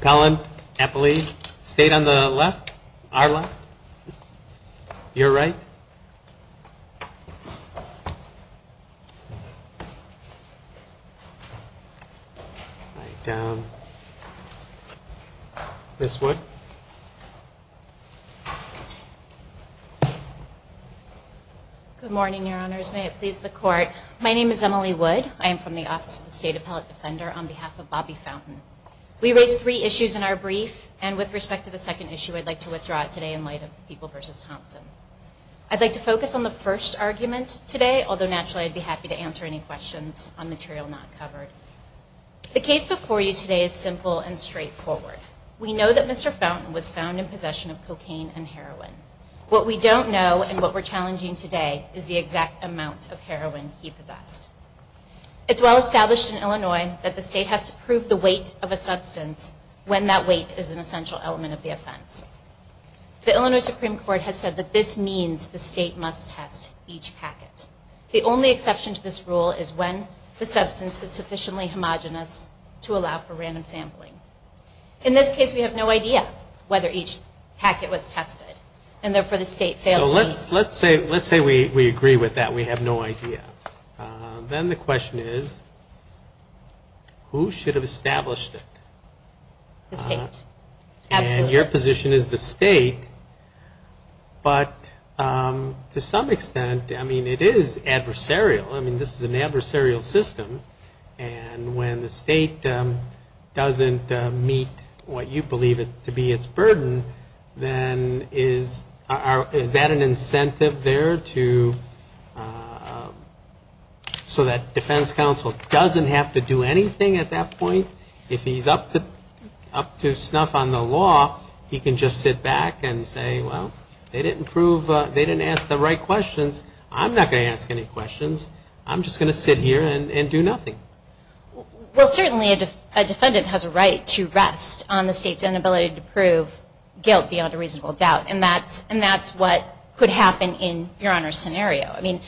Collin Eppley, state on the left, our left, your right. Good morning, your honors. May it please the court. My name is Emily Wood. I am from the Office of the State Appellate Defender on behalf of Bobby Fountain. We raised three issues in our brief, and with respect to the second issue, I'd like to withdraw it today in light of People v. Thompson. I'd like to focus on the first argument today, although naturally I'd be happy to answer any questions on material not covered. The case before you today is simple and straightforward. We know that Mr. Fountain was found in possession of cocaine and heroin. What we don't know, and what we're challenging today, is the exact amount of heroin he possessed. It's well established in Illinois that the state has to prove the weight of a substance when that weight is an essential element of the offense. The Illinois only exception to this rule is when the substance is sufficiently homogenous to allow for random sampling. In this case, we have no idea whether each packet was tested, and therefore the state fails to prove it. So let's say we agree with that, we have no idea. Then the question is, who should have established it? The state. Absolutely. Your position is the state, but to some extent, I mean, it is adversarial. I mean, this is an adversarial system, and when the state doesn't meet what you believe to be its burden, then is that an incentive there to, so that defense counsel doesn't have to do anything at that point. If he's up to snuff on the law, he can just sit back and say, well, they didn't prove, they didn't ask the right questions. I'm not going to ask any questions. I'm just going to sit here and do nothing. Well, certainly a defendant has a right to rest on the state's inability to prove guilt beyond a reasonable doubt, and that's what could happen in Your Honor's scenario. I mean,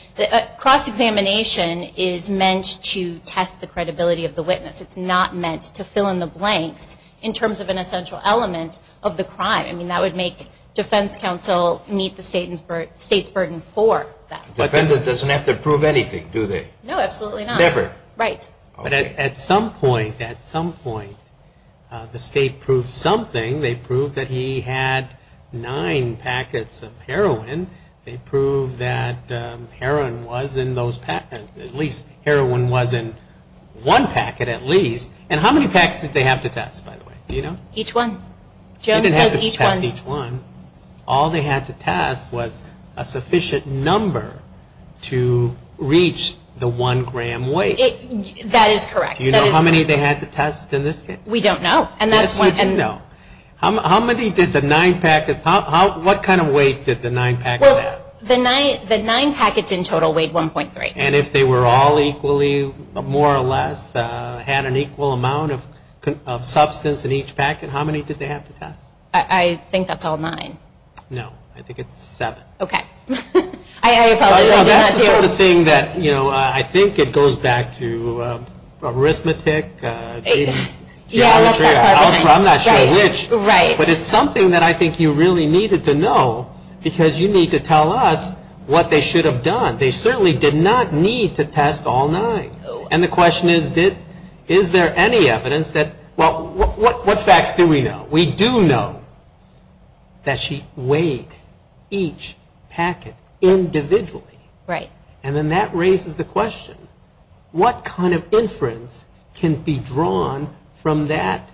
cross-examination is meant to test the credibility of the witness. It's not meant to fill in the blanks in terms of an essential element of the crime. I mean, that would make defense counsel meet the state's burden for that. The defendant doesn't have to prove anything, do they? No, absolutely not. Never. Right. But at some point, at some point, the state proves something. They prove that he had nine packets of heroin. They prove that heroin was in those, at least heroin was in one packet at least. And how many packets did they have to test, by the way? Do you know? Each one. They didn't have to test each one. All they had to test was a sufficient number to reach the one-gram weight. That is correct. That is correct. Do you know how many they had to test in this case? We don't know. And that's one. No. How many did the nine packets, what kind of weight did the nine packets have? The nine packets in total weighed 1.3. And if they were all equally, more or less, had an equal amount of substance in each packet, how many did they have to test? I think that's all nine. No, I think it's seven. Okay. I apologize, I don't have to. That's the sort of thing that, you know, I think it goes back to arithmetic, geometry. I'm not sure which, but it's something that I think you really needed to know because you need to tell us what they should have done. They certainly did not need to test all nine. And the question is, is there any evidence that, well, what facts do we know? We do know that she weighed each packet individually. And then that raises the question, what kind of inference can be drawn from that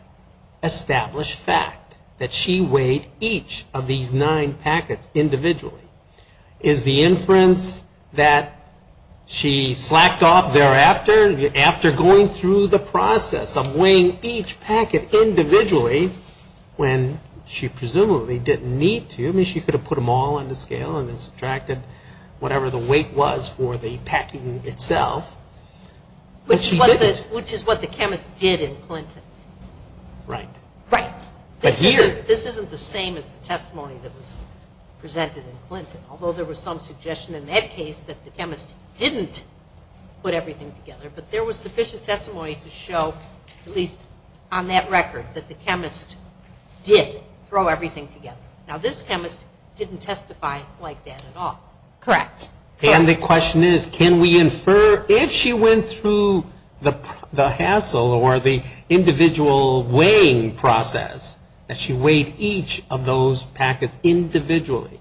established fact that she weighed each of these nine packets individually? Is the inference that she slacked off thereafter, after going through the process of weighing each packet individually when she presumably didn't need to? I mean, she could have put them all on the scale and then subtracted whatever the weight was for the one packet. Which is what the chemist did in Clinton. Right. Right. But here. This isn't the same as the testimony that was presented in Clinton, although there was some suggestion in that case that the chemist didn't put everything together. But there was sufficient testimony to show, at least on that record, that the chemist did throw everything together. Now, this chemist didn't testify like that at all. Correct. And the question is, can we infer, if she went through the hassle or the individual weighing process, that she weighed each of those packets individually,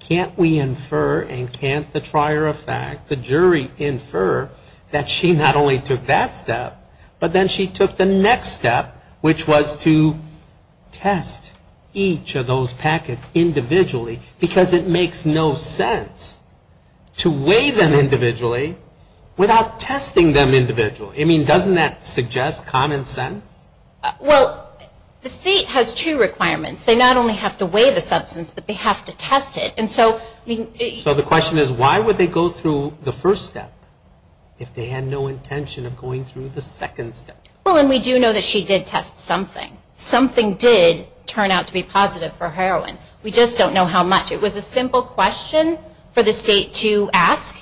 can't we infer and can't the trier of fact, the jury, infer that she not only took that step, but then she took the next step, which was to test each of those packets individually, because it makes no sense to weigh them individually without testing them individually. I mean, doesn't that suggest common sense? Well, the state has two requirements. They not only have to weigh the substance, but they have to test it. And so, I mean, So the question is, why would they go through the first step if they had no intention of going through the second step? Well, and we do know that she did test something. Something did turn out to be positive for a simple question for the state to ask.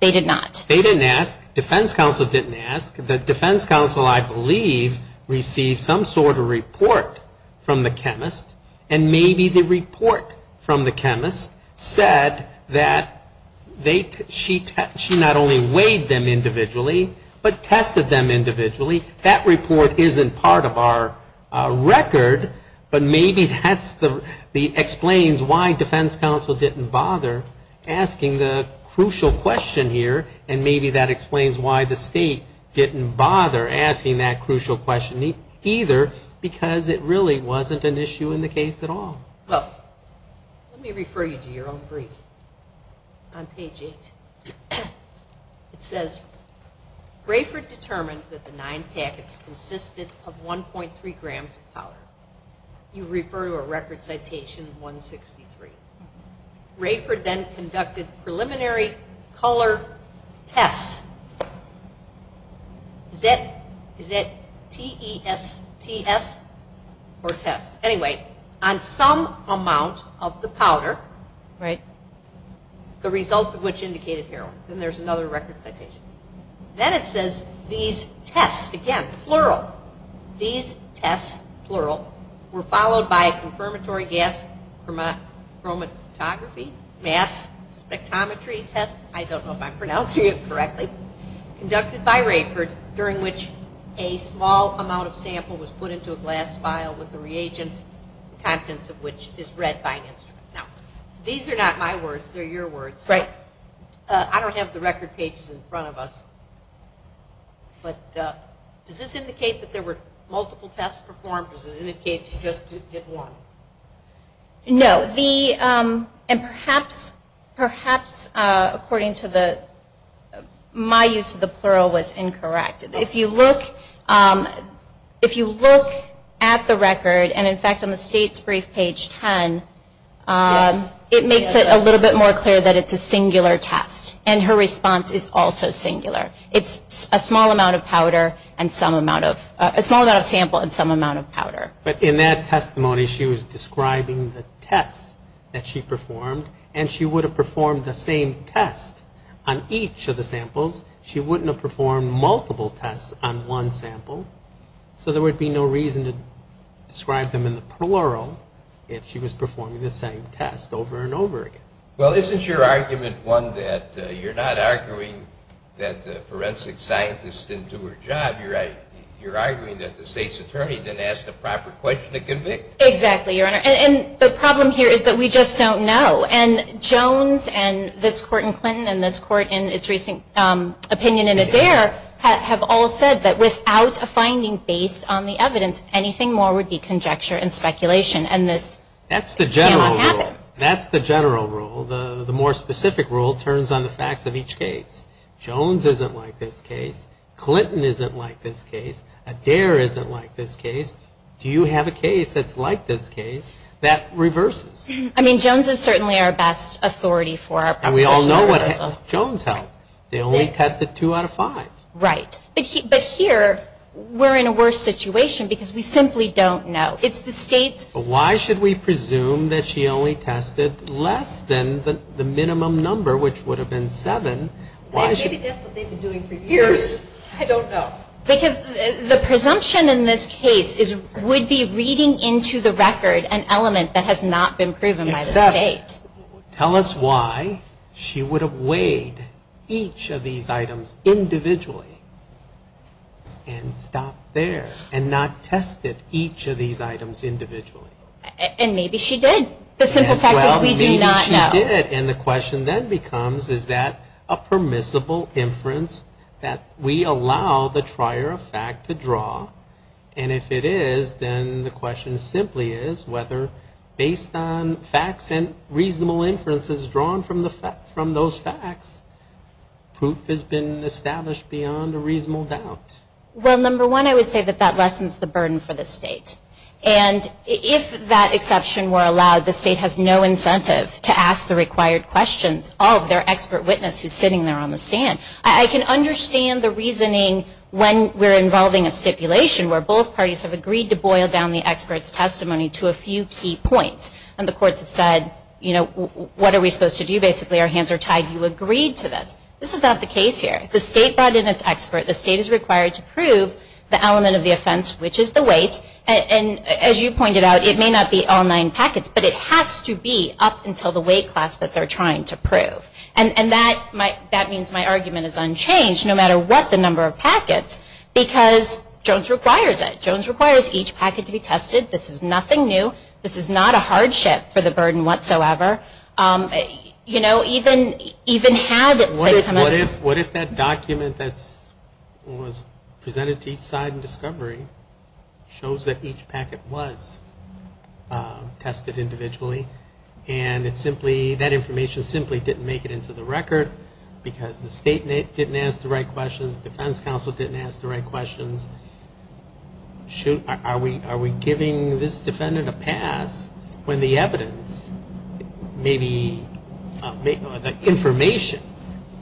They did not. They didn't ask. Defense counsel didn't ask. The defense counsel, I believe, received some sort of report from the chemist, and maybe the report from the chemist said that she not only weighed them individually, but tested them individually. That report isn't part of our record, but maybe that explains why defense counsel didn't bother asking the crucial question here, and maybe that explains why the state didn't bother asking that crucial question either, because it really wasn't an issue in the case at all. Well, let me refer you to your own brief on page 8. It says, Rayford determined that the nine packets consisted of 1.3 grams of powder. You refer to a record citation, 163. Rayford then conducted preliminary color tests. Is that T-E-S-T-S, or tests? Anyway, on some amount of the powder, the results of which indicated heroin. Then there's another record citation. Then it says, these tests, again, plural, these tests, plural, were followed by a confirmatory gas chromatography, mass spectrometry test, I don't know if I'm pronouncing it correctly, conducted by Rayford, during which a small amount of sample was put into a glass vial with a reagent, the contents of which is read by an instrument. These are not my words, they're your words. I don't have the record pages in front of us, but does this indicate that there were multiple tests performed, or does it indicate she just did one? No. And perhaps, according to the, my use of the plural was incorrect. If you look at the record, and in fact on the state's brief page 10, it makes it a little bit more clear that it's a singular test, and her response is also singular. It's a small amount of powder, and some amount of, a small amount of sample, and some amount of powder. But in that testimony, she was describing the tests that she performed, and she would have performed the same test on each of the samples. She wouldn't have performed multiple tests on one sample, so there would be no reason to describe them in the plural if she was performing the same test over and over again. Well, isn't your argument one that you're not arguing that the forensic scientist didn't do her job? You're arguing that the state's attorney didn't ask the proper question to convict? Exactly, Your Honor. And the problem here is that we just don't know. And Jones and this Court in Clinton, and this Court in its recent opinion in Adair, have all said that without a finding based on the evidence, anything more would be conjecture and speculation, and this cannot happen. That's the general rule. That's the general rule. The more specific rule turns on the facts of each case. Jones isn't like this case. Clinton isn't like this case. Adair isn't like this case. Do you have a case that's like this case that reverses? I mean, Jones is certainly our best authority for our professional reversal. And we all know what Jones held. They only tested two out of five. Right. But here, we're in a worse situation because we simply don't know. It's the state's... But why should we presume that she only tested less than the minimum number, which would have been seven? Why should... Maybe that's what they've been doing for years. I don't know. Because the presumption in this case would be reading into the record an element that has not been proven by the state. Except, tell us why she would have weighed each of these items individually and stopped there, and not tested each of these items individually. And maybe she did. The simple fact is we do not know. Well, maybe she did. And the question then becomes, is that a permissible inference that we allow the trier of fact to draw? And if it is, then the question simply is whether, based on facts and reasonable inferences drawn from those facts, proof has been established beyond a reasonable doubt. Well, number one, I would say that that lessens the burden for the state. And if that exception were allowed, the state has no incentive to ask the required questions of their expert witness who's sitting there on the stand. I can understand the reasoning when we're involving a stipulation where both And the courts have said, you know, what are we supposed to do? Basically, our hands are tied. You agreed to this. This is not the case here. The state brought in its expert. The state is required to prove the element of the offense, which is the weight. And as you pointed out, it may not be all nine packets. But it has to be up until the weight class that they're trying to prove. And that means my argument is unchanged, no matter what the number of packets, because Jones requires it. Jones requires each packet to be tested. This is nothing new. This is not a hardship for the burden whatsoever. You know, even had it become a What if that document that was presented to each side in discovery shows that each packet was tested individually, and that information simply didn't make it into the record because the state didn't ask the right questions, defense counsel didn't ask the right questions? Shoot, are we giving this defendant a pass when the evidence, maybe the information,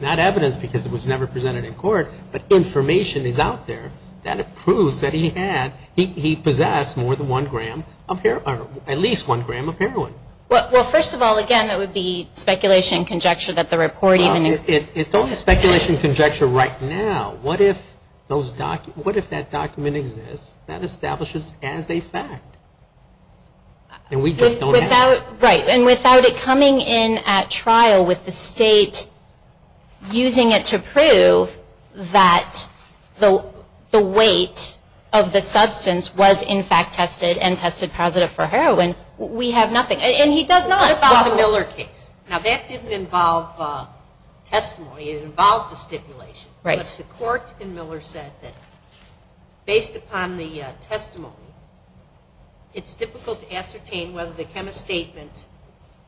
not evidence because it was never presented in court, but information is out there that it proves that he had, he possessed more than one gram of heroin, or at least one gram of heroin? Well, first of all, again, that would be speculation and conjecture that the report even exists. It's only speculation and conjecture right now. What if that document exists that establishes as a fact? And we just don't have it. Right, and without it coming in at trial with the state using it to prove that the weight of the substance was in fact tested and tested positive for heroin, we have nothing. And he does not. What about the Miller case? Now, that didn't involve testimony. It involved a stipulation. But the court in Miller said that based upon the testimony, it's difficult to ascertain whether the chemist's statement,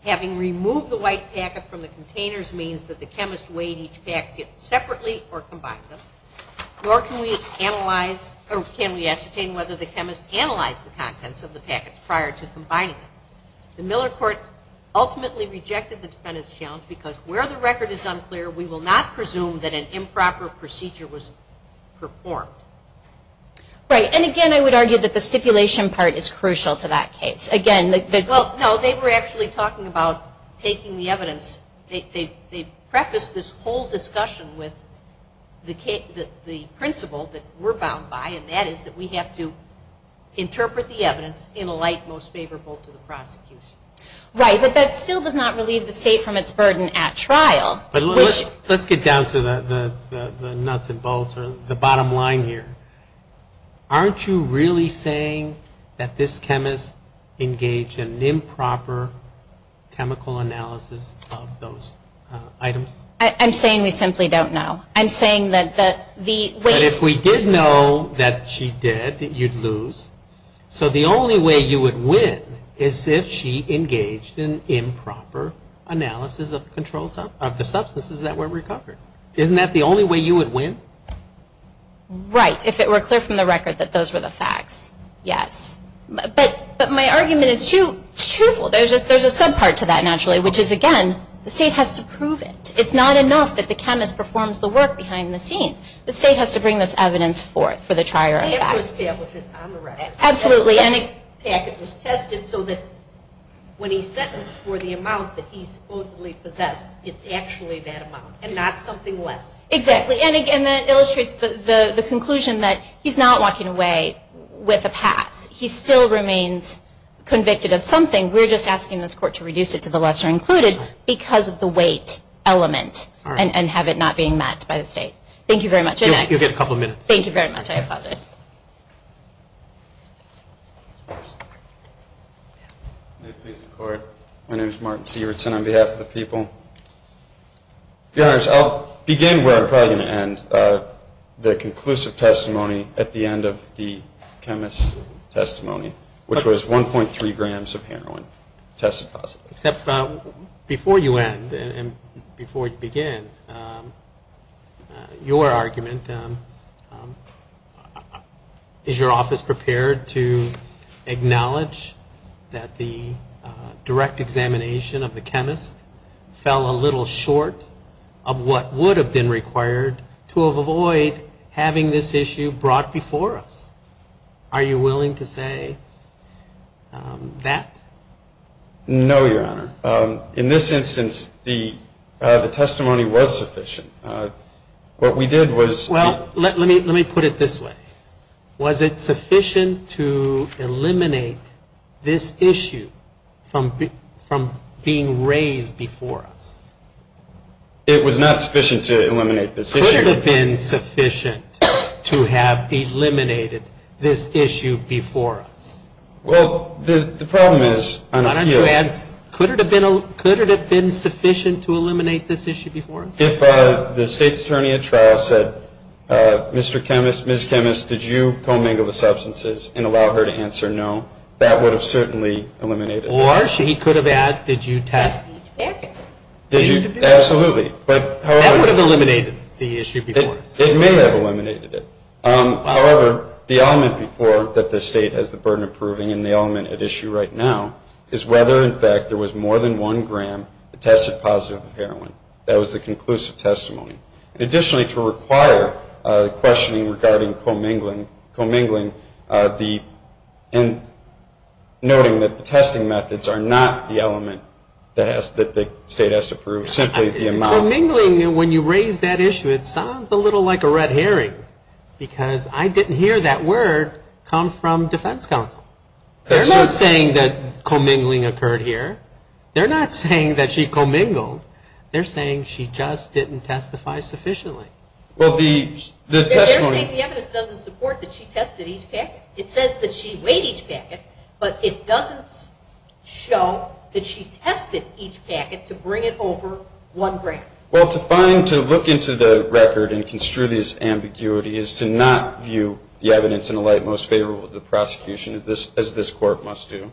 having removed the white packet from the containers, means that the chemist weighed each packet separately or combined them, nor can we analyze, or can we ascertain whether the chemist analyzed the contents of the packets prior to combining them. The Miller court ultimately rejected the defendant's challenge because where the record is unclear, we will not presume that an improper procedure was performed. Right, and again, I would argue that the stipulation part is crucial to that case. Again, the goal, no, they were actually talking about taking the evidence. They prefaced this whole discussion with the principle that we're bound by, and that is that we have to interpret the evidence in a light most favorable to the prosecution. Right, but that still does not relieve the state from its burden at trial. Let's get down to the nuts and bolts or the bottom line here. Aren't you really saying that this chemist engaged in an improper chemical analysis of those items? I'm saying we simply don't know. I'm saying that the weight we did know that she did, that you'd lose, so the only way you would win is if she engaged in improper analysis of the substances that were recovered. Isn't that the only way you would win? Right, if it were clear from the record that those were the facts, yes. But my argument is twofold. There's a subpart to that naturally, which is, again, the state has to prove it. It's not enough that the chemist performs the work behind the scenes. The state has to bring this evidence forth for the trier of facts. They have to establish it on the record. Absolutely. The packet was tested so that when he's sentenced for the amount that he supposedly possessed, it's actually that amount and not something less. Exactly, and again, that illustrates the conclusion that he's not walking away with a pass. He still remains convicted of something. We're just asking this court to reduce it to the lesser included because of the weight element and have it not being met by the state. Thank you very much. You'll get a couple of minutes. Thank you very much. I apologize. My name is Martin Sewardson on behalf of the people. Your Honors, I'll begin where I'm probably going to end, the conclusive testimony at the end of the chemist's testimony, which was 1.3 grams of heroin tested positive. Before you end and before you begin, your argument, is your office prepared to acknowledge that the direct examination of the chemist fell a little short of what would have been required to avoid having this issue brought before us? Are you willing to say that? No, your Honor. In this instance, the testimony was sufficient. What we did was Well, let me put it this way. Was it sufficient to eliminate this issue from being raised before us? It was not sufficient to eliminate this issue. Could it have been sufficient to have eliminated this issue before us? Well, the problem is on a few issues. Could it have been sufficient to eliminate this issue before us? If the state's attorney at trial said, Mr. Chemist, Ms. Chemist, did you co-mingle the substances and allow her to answer no, that would have certainly eliminated it. Or she could have asked, did you test it? Absolutely. That would have eliminated the issue before us. It may have eliminated it. However, the element before that the state has the burden of proving and the element at issue right now is whether, in fact, there was more than one gram that tested positive for heroin. That was the conclusive testimony. Additionally, to require questioning regarding co-mingling, noting that the testing methods are not the element that the state has to prove, simply the amount. Well, co-mingling, when you raise that issue, it sounds a little like a red herring because I didn't hear that word come from defense counsel. They're not saying that co-mingling occurred here. They're not saying that she co-mingled. They're saying she just didn't testify sufficiently. They're saying the evidence doesn't support that she tested each packet. It says that she weighed each packet, but it doesn't show that she tested each packet to bring it over one gram. Well, to find, to look into the record and construe this ambiguity is to not view the evidence in the light most favorable to the prosecution, as this court must do.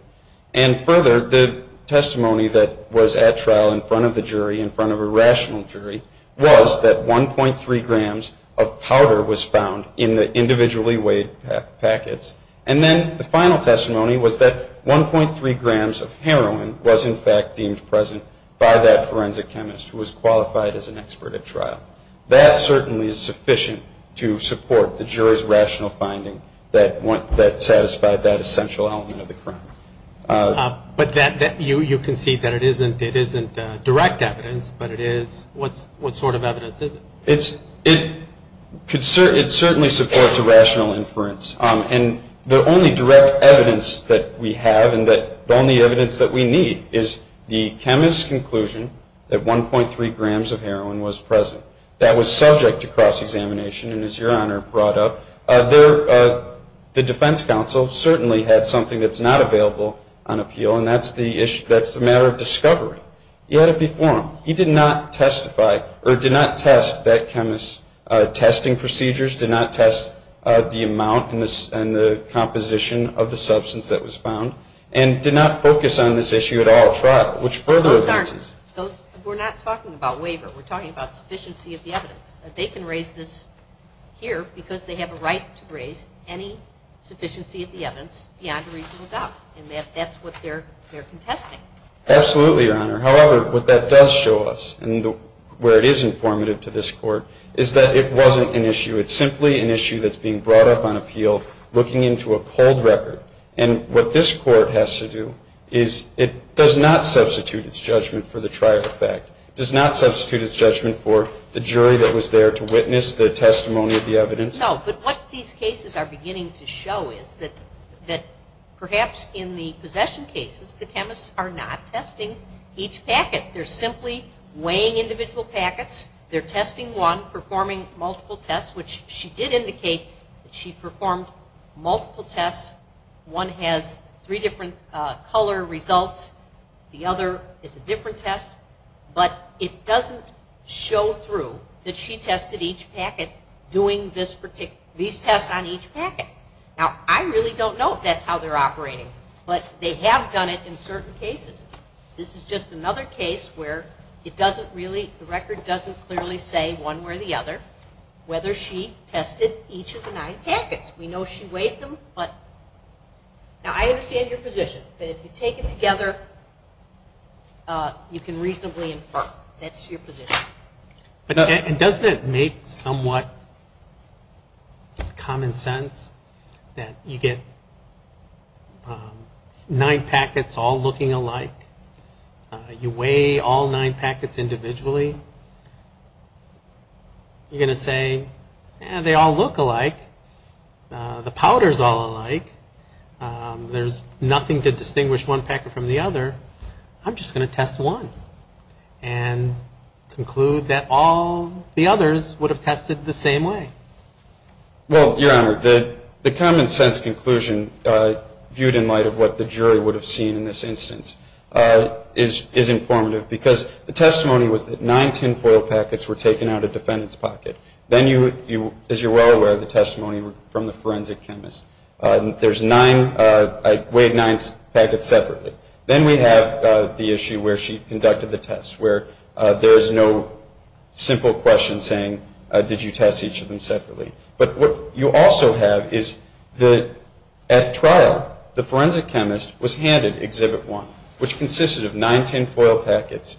And further, the testimony that was at trial in front of the jury, in front of a rational jury, was that 1.3 grams of powder was found in the individually weighed packets. And then the final testimony was that 1.3 grams of heroin was, in fact, deemed present by that forensic chemist who was qualified as an expert at trial. That certainly is sufficient to support the jury's rational finding that satisfied that essential element of the crime. But you concede that it isn't direct evidence, but it is. What sort of evidence is it? It certainly supports a rational inference. And the only direct evidence that we have and the only evidence that we need is the chemist's conclusion that 1.3 grams of heroin was present. That was subject to cross-examination, and, as Your Honor brought up, the defense counsel certainly had something that's not available on appeal, and that's the matter of discovery. He had it before him. He did not testify, or did not test that chemist's testing procedures, did not test the amount and the composition of the substance that was found, and did not focus on this issue at all at trial, which further evidences. We're not talking about waiver. We're talking about sufficiency of the evidence. They can raise this here because they have a right to raise any sufficiency of the evidence beyond a reasonable doubt, and that's what they're contesting. Absolutely, Your Honor. However, what that does show us, and where it is informative to this court, is that it wasn't an issue. It's simply an issue that's being brought up on appeal, looking into a cold record, and what this court has to do is it does not substitute its judgment for the trial effect. It does not substitute its judgment for the jury that was there to witness the testimony of the evidence. No, but what these cases are beginning to show is that perhaps in the possession cases the chemists are not testing each packet. They're simply weighing individual packets. They're testing one, performing multiple tests, which she did indicate that she performed multiple tests. One has three different color results. The other is a different test, but it doesn't show through that she tested each packet doing these tests on each packet. Now, I really don't know if that's how they're operating, but they have done it in certain cases. This is just another case where the record doesn't clearly say one way or the other whether she tested each of the nine packets. We know she weighed them. Now, I understand your position, but if you take it together, you can reasonably infer. That's your position. And doesn't it make somewhat common sense that you get nine packets all looking alike? You weigh all nine packets individually. You're going to say, they all look alike. The powder is all alike. There's nothing to distinguish one packet from the other. I'm just going to test one. And conclude that all the others would have tested the same way. Well, Your Honor, the common sense conclusion, viewed in light of what the jury would have seen in this instance, is informative. Because the testimony was that nine tinfoil packets were taken out of the defendant's pocket. Then, as you're well aware, the testimony from the forensic chemist. There's nine. I weighed nine packets separately. Then we have the issue where she conducted the test, where there is no simple question saying, did you test each of them separately? But what you also have is that at trial, the forensic chemist was handed Exhibit 1, which consisted of nine tinfoil packets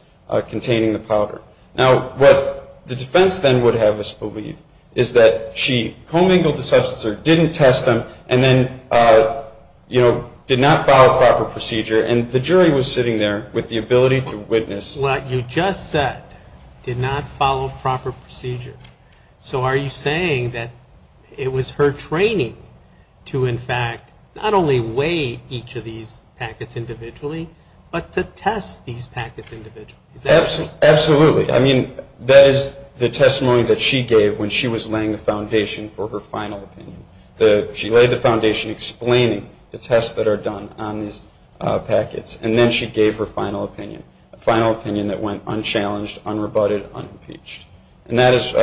containing the powder. Now, what the defense then would have us believe is that she commingled the substance or didn't test them and then, you know, did not follow proper procedure. And the jury was sitting there with the ability to witness. What you just said, did not follow proper procedure. So are you saying that it was her training to, in fact, not only weigh each of these packets individually, but to test these packets individually? Absolutely. I mean, that is the testimony that she gave when she was laying the foundation for her final opinion. She laid the foundation explaining the tests that are done on these packets, and then she gave her final opinion, a final opinion that went unchallenged, unrebutted, unimpeached. And that is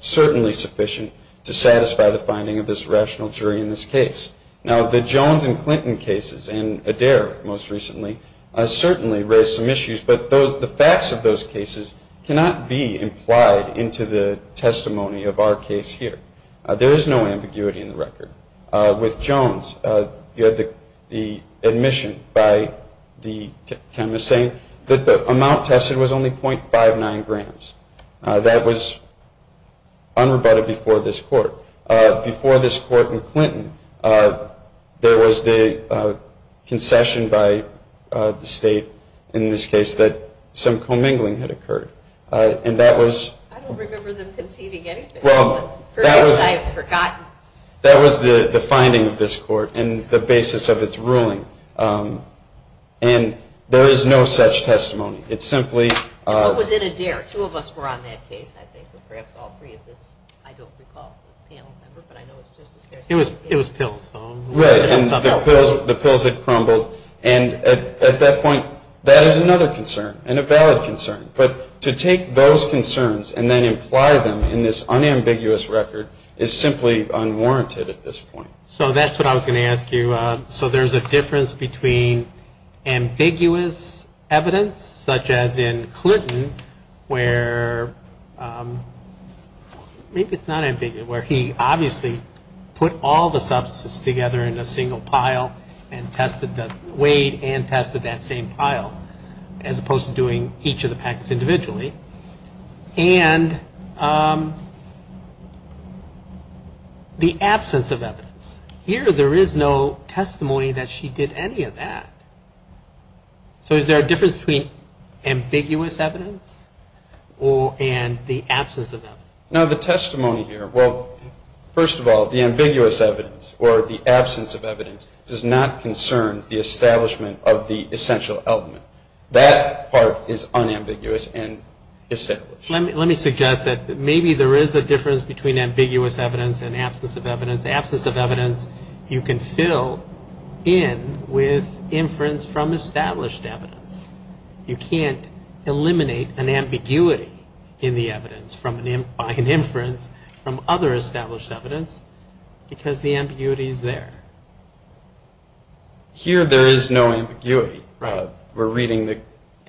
certainly sufficient to satisfy the finding of this rational jury in this case. Now, the Jones and Clinton cases and Adair most recently certainly raised some issues, but the facts of those cases cannot be implied into the testimony of our case here. There is no ambiguity in the record. With Jones, you had the admission by the chemist saying that the amount tested was only .59 grams. That was unrebutted before this court. Before this court in Clinton, there was the concession by the state in this case that some commingling had occurred. I don't remember them conceding anything. Well, that was the finding of this court and the basis of its ruling, and there is no such testimony. What was in Adair? Two of us were on that case, I think, or perhaps all three of us. I don't recall the panel member, but I know it was Justice Garcetti. It was pills, though. The pills had crumbled. And at that point, that is another concern and a valid concern. But to take those concerns and then imply them in this unambiguous record is simply unwarranted at this point. So that's what I was going to ask you. So there's a difference between ambiguous evidence, such as in Clinton, where he obviously put all the substances together in a single pile and weighed and tested that same pile, as opposed to doing each of the packets individually, Here, there is no testimony that she did any of that. So is there a difference between ambiguous evidence and the absence of evidence? Now, the testimony here, well, first of all, the ambiguous evidence, or the absence of evidence, does not concern the establishment of the essential element. That part is unambiguous and established. Let me suggest that maybe there is a difference between ambiguous evidence and absence of evidence. Absence of evidence, you can fill in with inference from established evidence. You can't eliminate an ambiguity in the evidence by an inference from other established evidence because the ambiguity is there. Here, there is no ambiguity. We're reading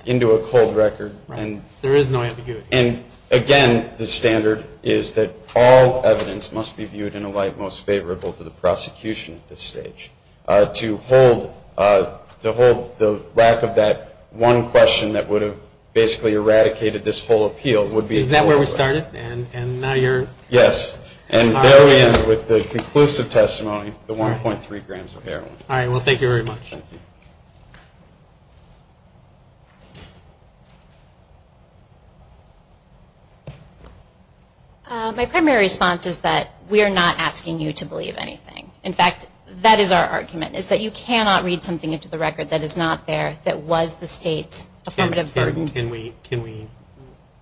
into a cold record. There is no ambiguity. And, again, the standard is that all evidence must be viewed in a light most favorable to the prosecution at this stage. To hold the lack of that one question that would have basically eradicated this whole appeal would be the wrong way. Is that where we started? Yes. And there we end with the conclusive testimony, the 1.3 grams of heroin. All right, well, thank you very much. Thank you. My primary response is that we are not asking you to believe anything. In fact, that is our argument is that you cannot read something into the record that is not there that was the state's affirmative burden. Can we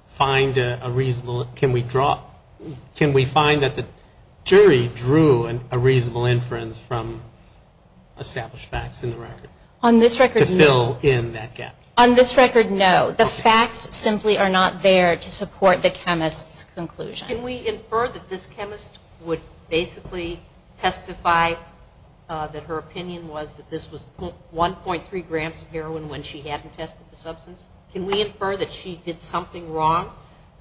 find a reasonable, can we draw, can we find that the jury drew a reasonable inference from established facts in the record? On this record, no. To fill in that gap? On this record, no. The facts simply are not there to support the chemist's conclusion. Can we infer that this chemist would basically testify that her opinion was that this was 1.3 grams of heroin when she hadn't tested the substance? Can we infer that she did something wrong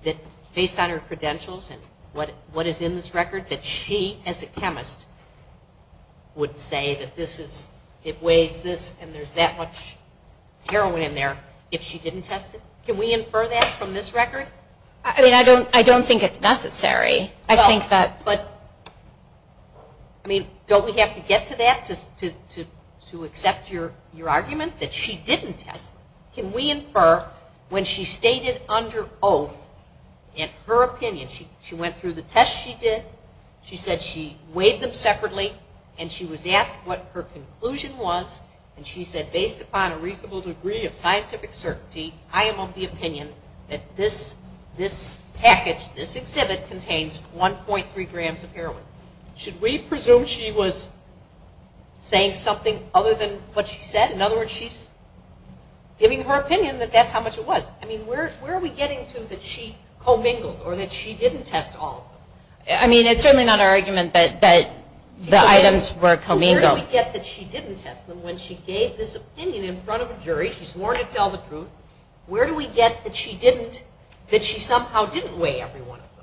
that, based on her credentials and what is in this record, that she, as a chemist, would say that this is, it weighs this and there's that much heroin in there if she didn't test it? Can we infer that from this record? I mean, I don't think it's necessary. I think that. But, I mean, don't we have to get to that to accept your argument that she didn't test? Can we infer when she stated under oath in her opinion, she went through the tests she did, she said she weighed them separately, and she was asked what her conclusion was, and she said, based upon a reasonable degree of scientific certainty, I am of the opinion that this package, this exhibit, contains 1.3 grams of heroin. Should we presume she was saying something other than what she said? In other words, she's giving her opinion that that's how much it was. I mean, where are we getting to that she commingled or that she didn't test all of them? I mean, it's certainly not our argument that the items were commingled. Where do we get that she didn't test them when she gave this opinion in front of a jury? She swore to tell the truth. Where do we get that she somehow didn't weigh every one of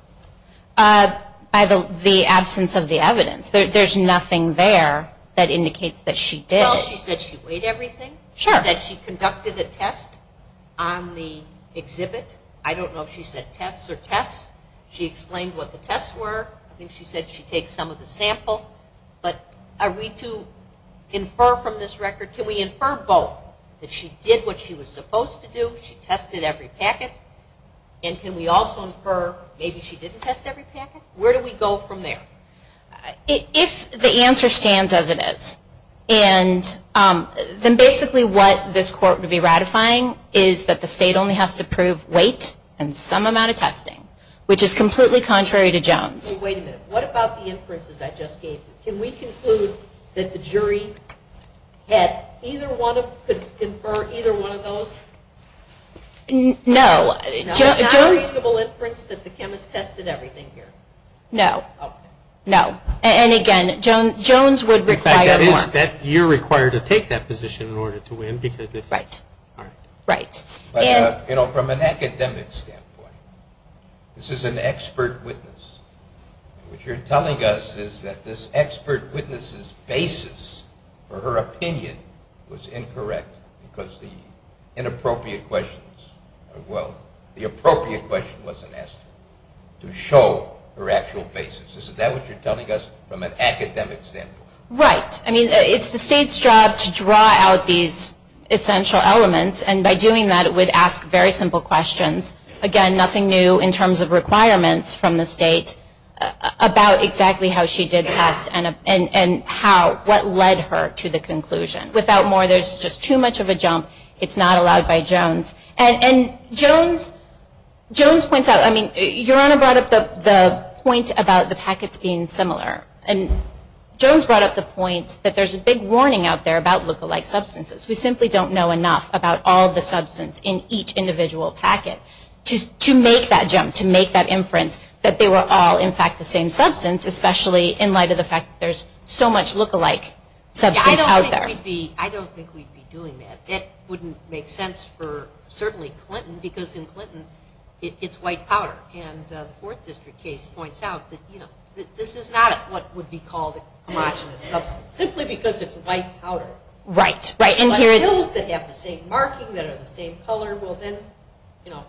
them? By the absence of the evidence. There's nothing there that indicates that she did. Well, she said she weighed everything. Sure. She said she conducted a test on the exhibit. I don't know if she said tests or tests. She explained what the tests were. I think she said she takes some of the sample. But are we to infer from this record, can we infer both that she did what she was supposed to do, she tested every packet, and can we also infer maybe she didn't test every packet? Where do we go from there? If the answer stands as it is, then basically what this court would be ratifying is that the state only has to prove weight and some amount of testing, which is completely contrary to Jones. Wait a minute. What about the inferences I just gave you? Can we conclude that the jury could confer either one of those? No. It's not a reasonable inference that the chemist tested everything here? No. Okay. No. And, again, Jones would require more. In fact, you're required to take that position in order to win because it's hard. Right. But, you know, from an academic standpoint, this is an expert witness. What you're telling us is that this expert witness's basis for her opinion was incorrect because the inappropriate question wasn't asked to show her actual basis. Is that what you're telling us from an academic standpoint? Right. I mean, it's the state's job to draw out these essential elements, and by doing that it would ask very simple questions. Again, nothing new in terms of requirements from the state about exactly how she did test and what led her to the conclusion. Without more, there's just too much of a jump. It's not allowed by Jones. And Jones points out, I mean, Your Honor brought up the point about the packets being similar, and Jones brought up the point that there's a big warning out there about lookalike substances. We simply don't know enough about all the substance in each individual packet to make that jump, to make that inference that they were all, in fact, the same substance, especially in light of the fact that there's so much lookalike substance out there. I don't think we'd be doing that. That wouldn't make sense for, certainly, Clinton, because in Clinton it's white powder. And the Fourth District case points out that this is not what would be called a homogenous substance, simply because it's white powder. Right. Like pills that have the same marking, that are the same color, well then, you know.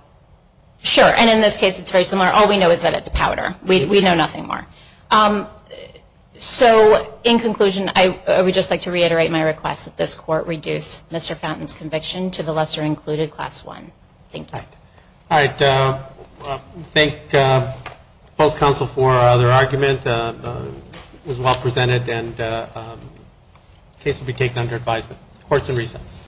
Sure. And in this case it's very similar. All we know is that it's powder. We know nothing more. So, in conclusion, I would just like to reiterate my request that this court reduce Mr. Fountain's conviction to the lesser included, Class 1. Thank you. All right. We thank both counsel for their argument. It was well presented, and the case will be taken under advisement. Court is in recess.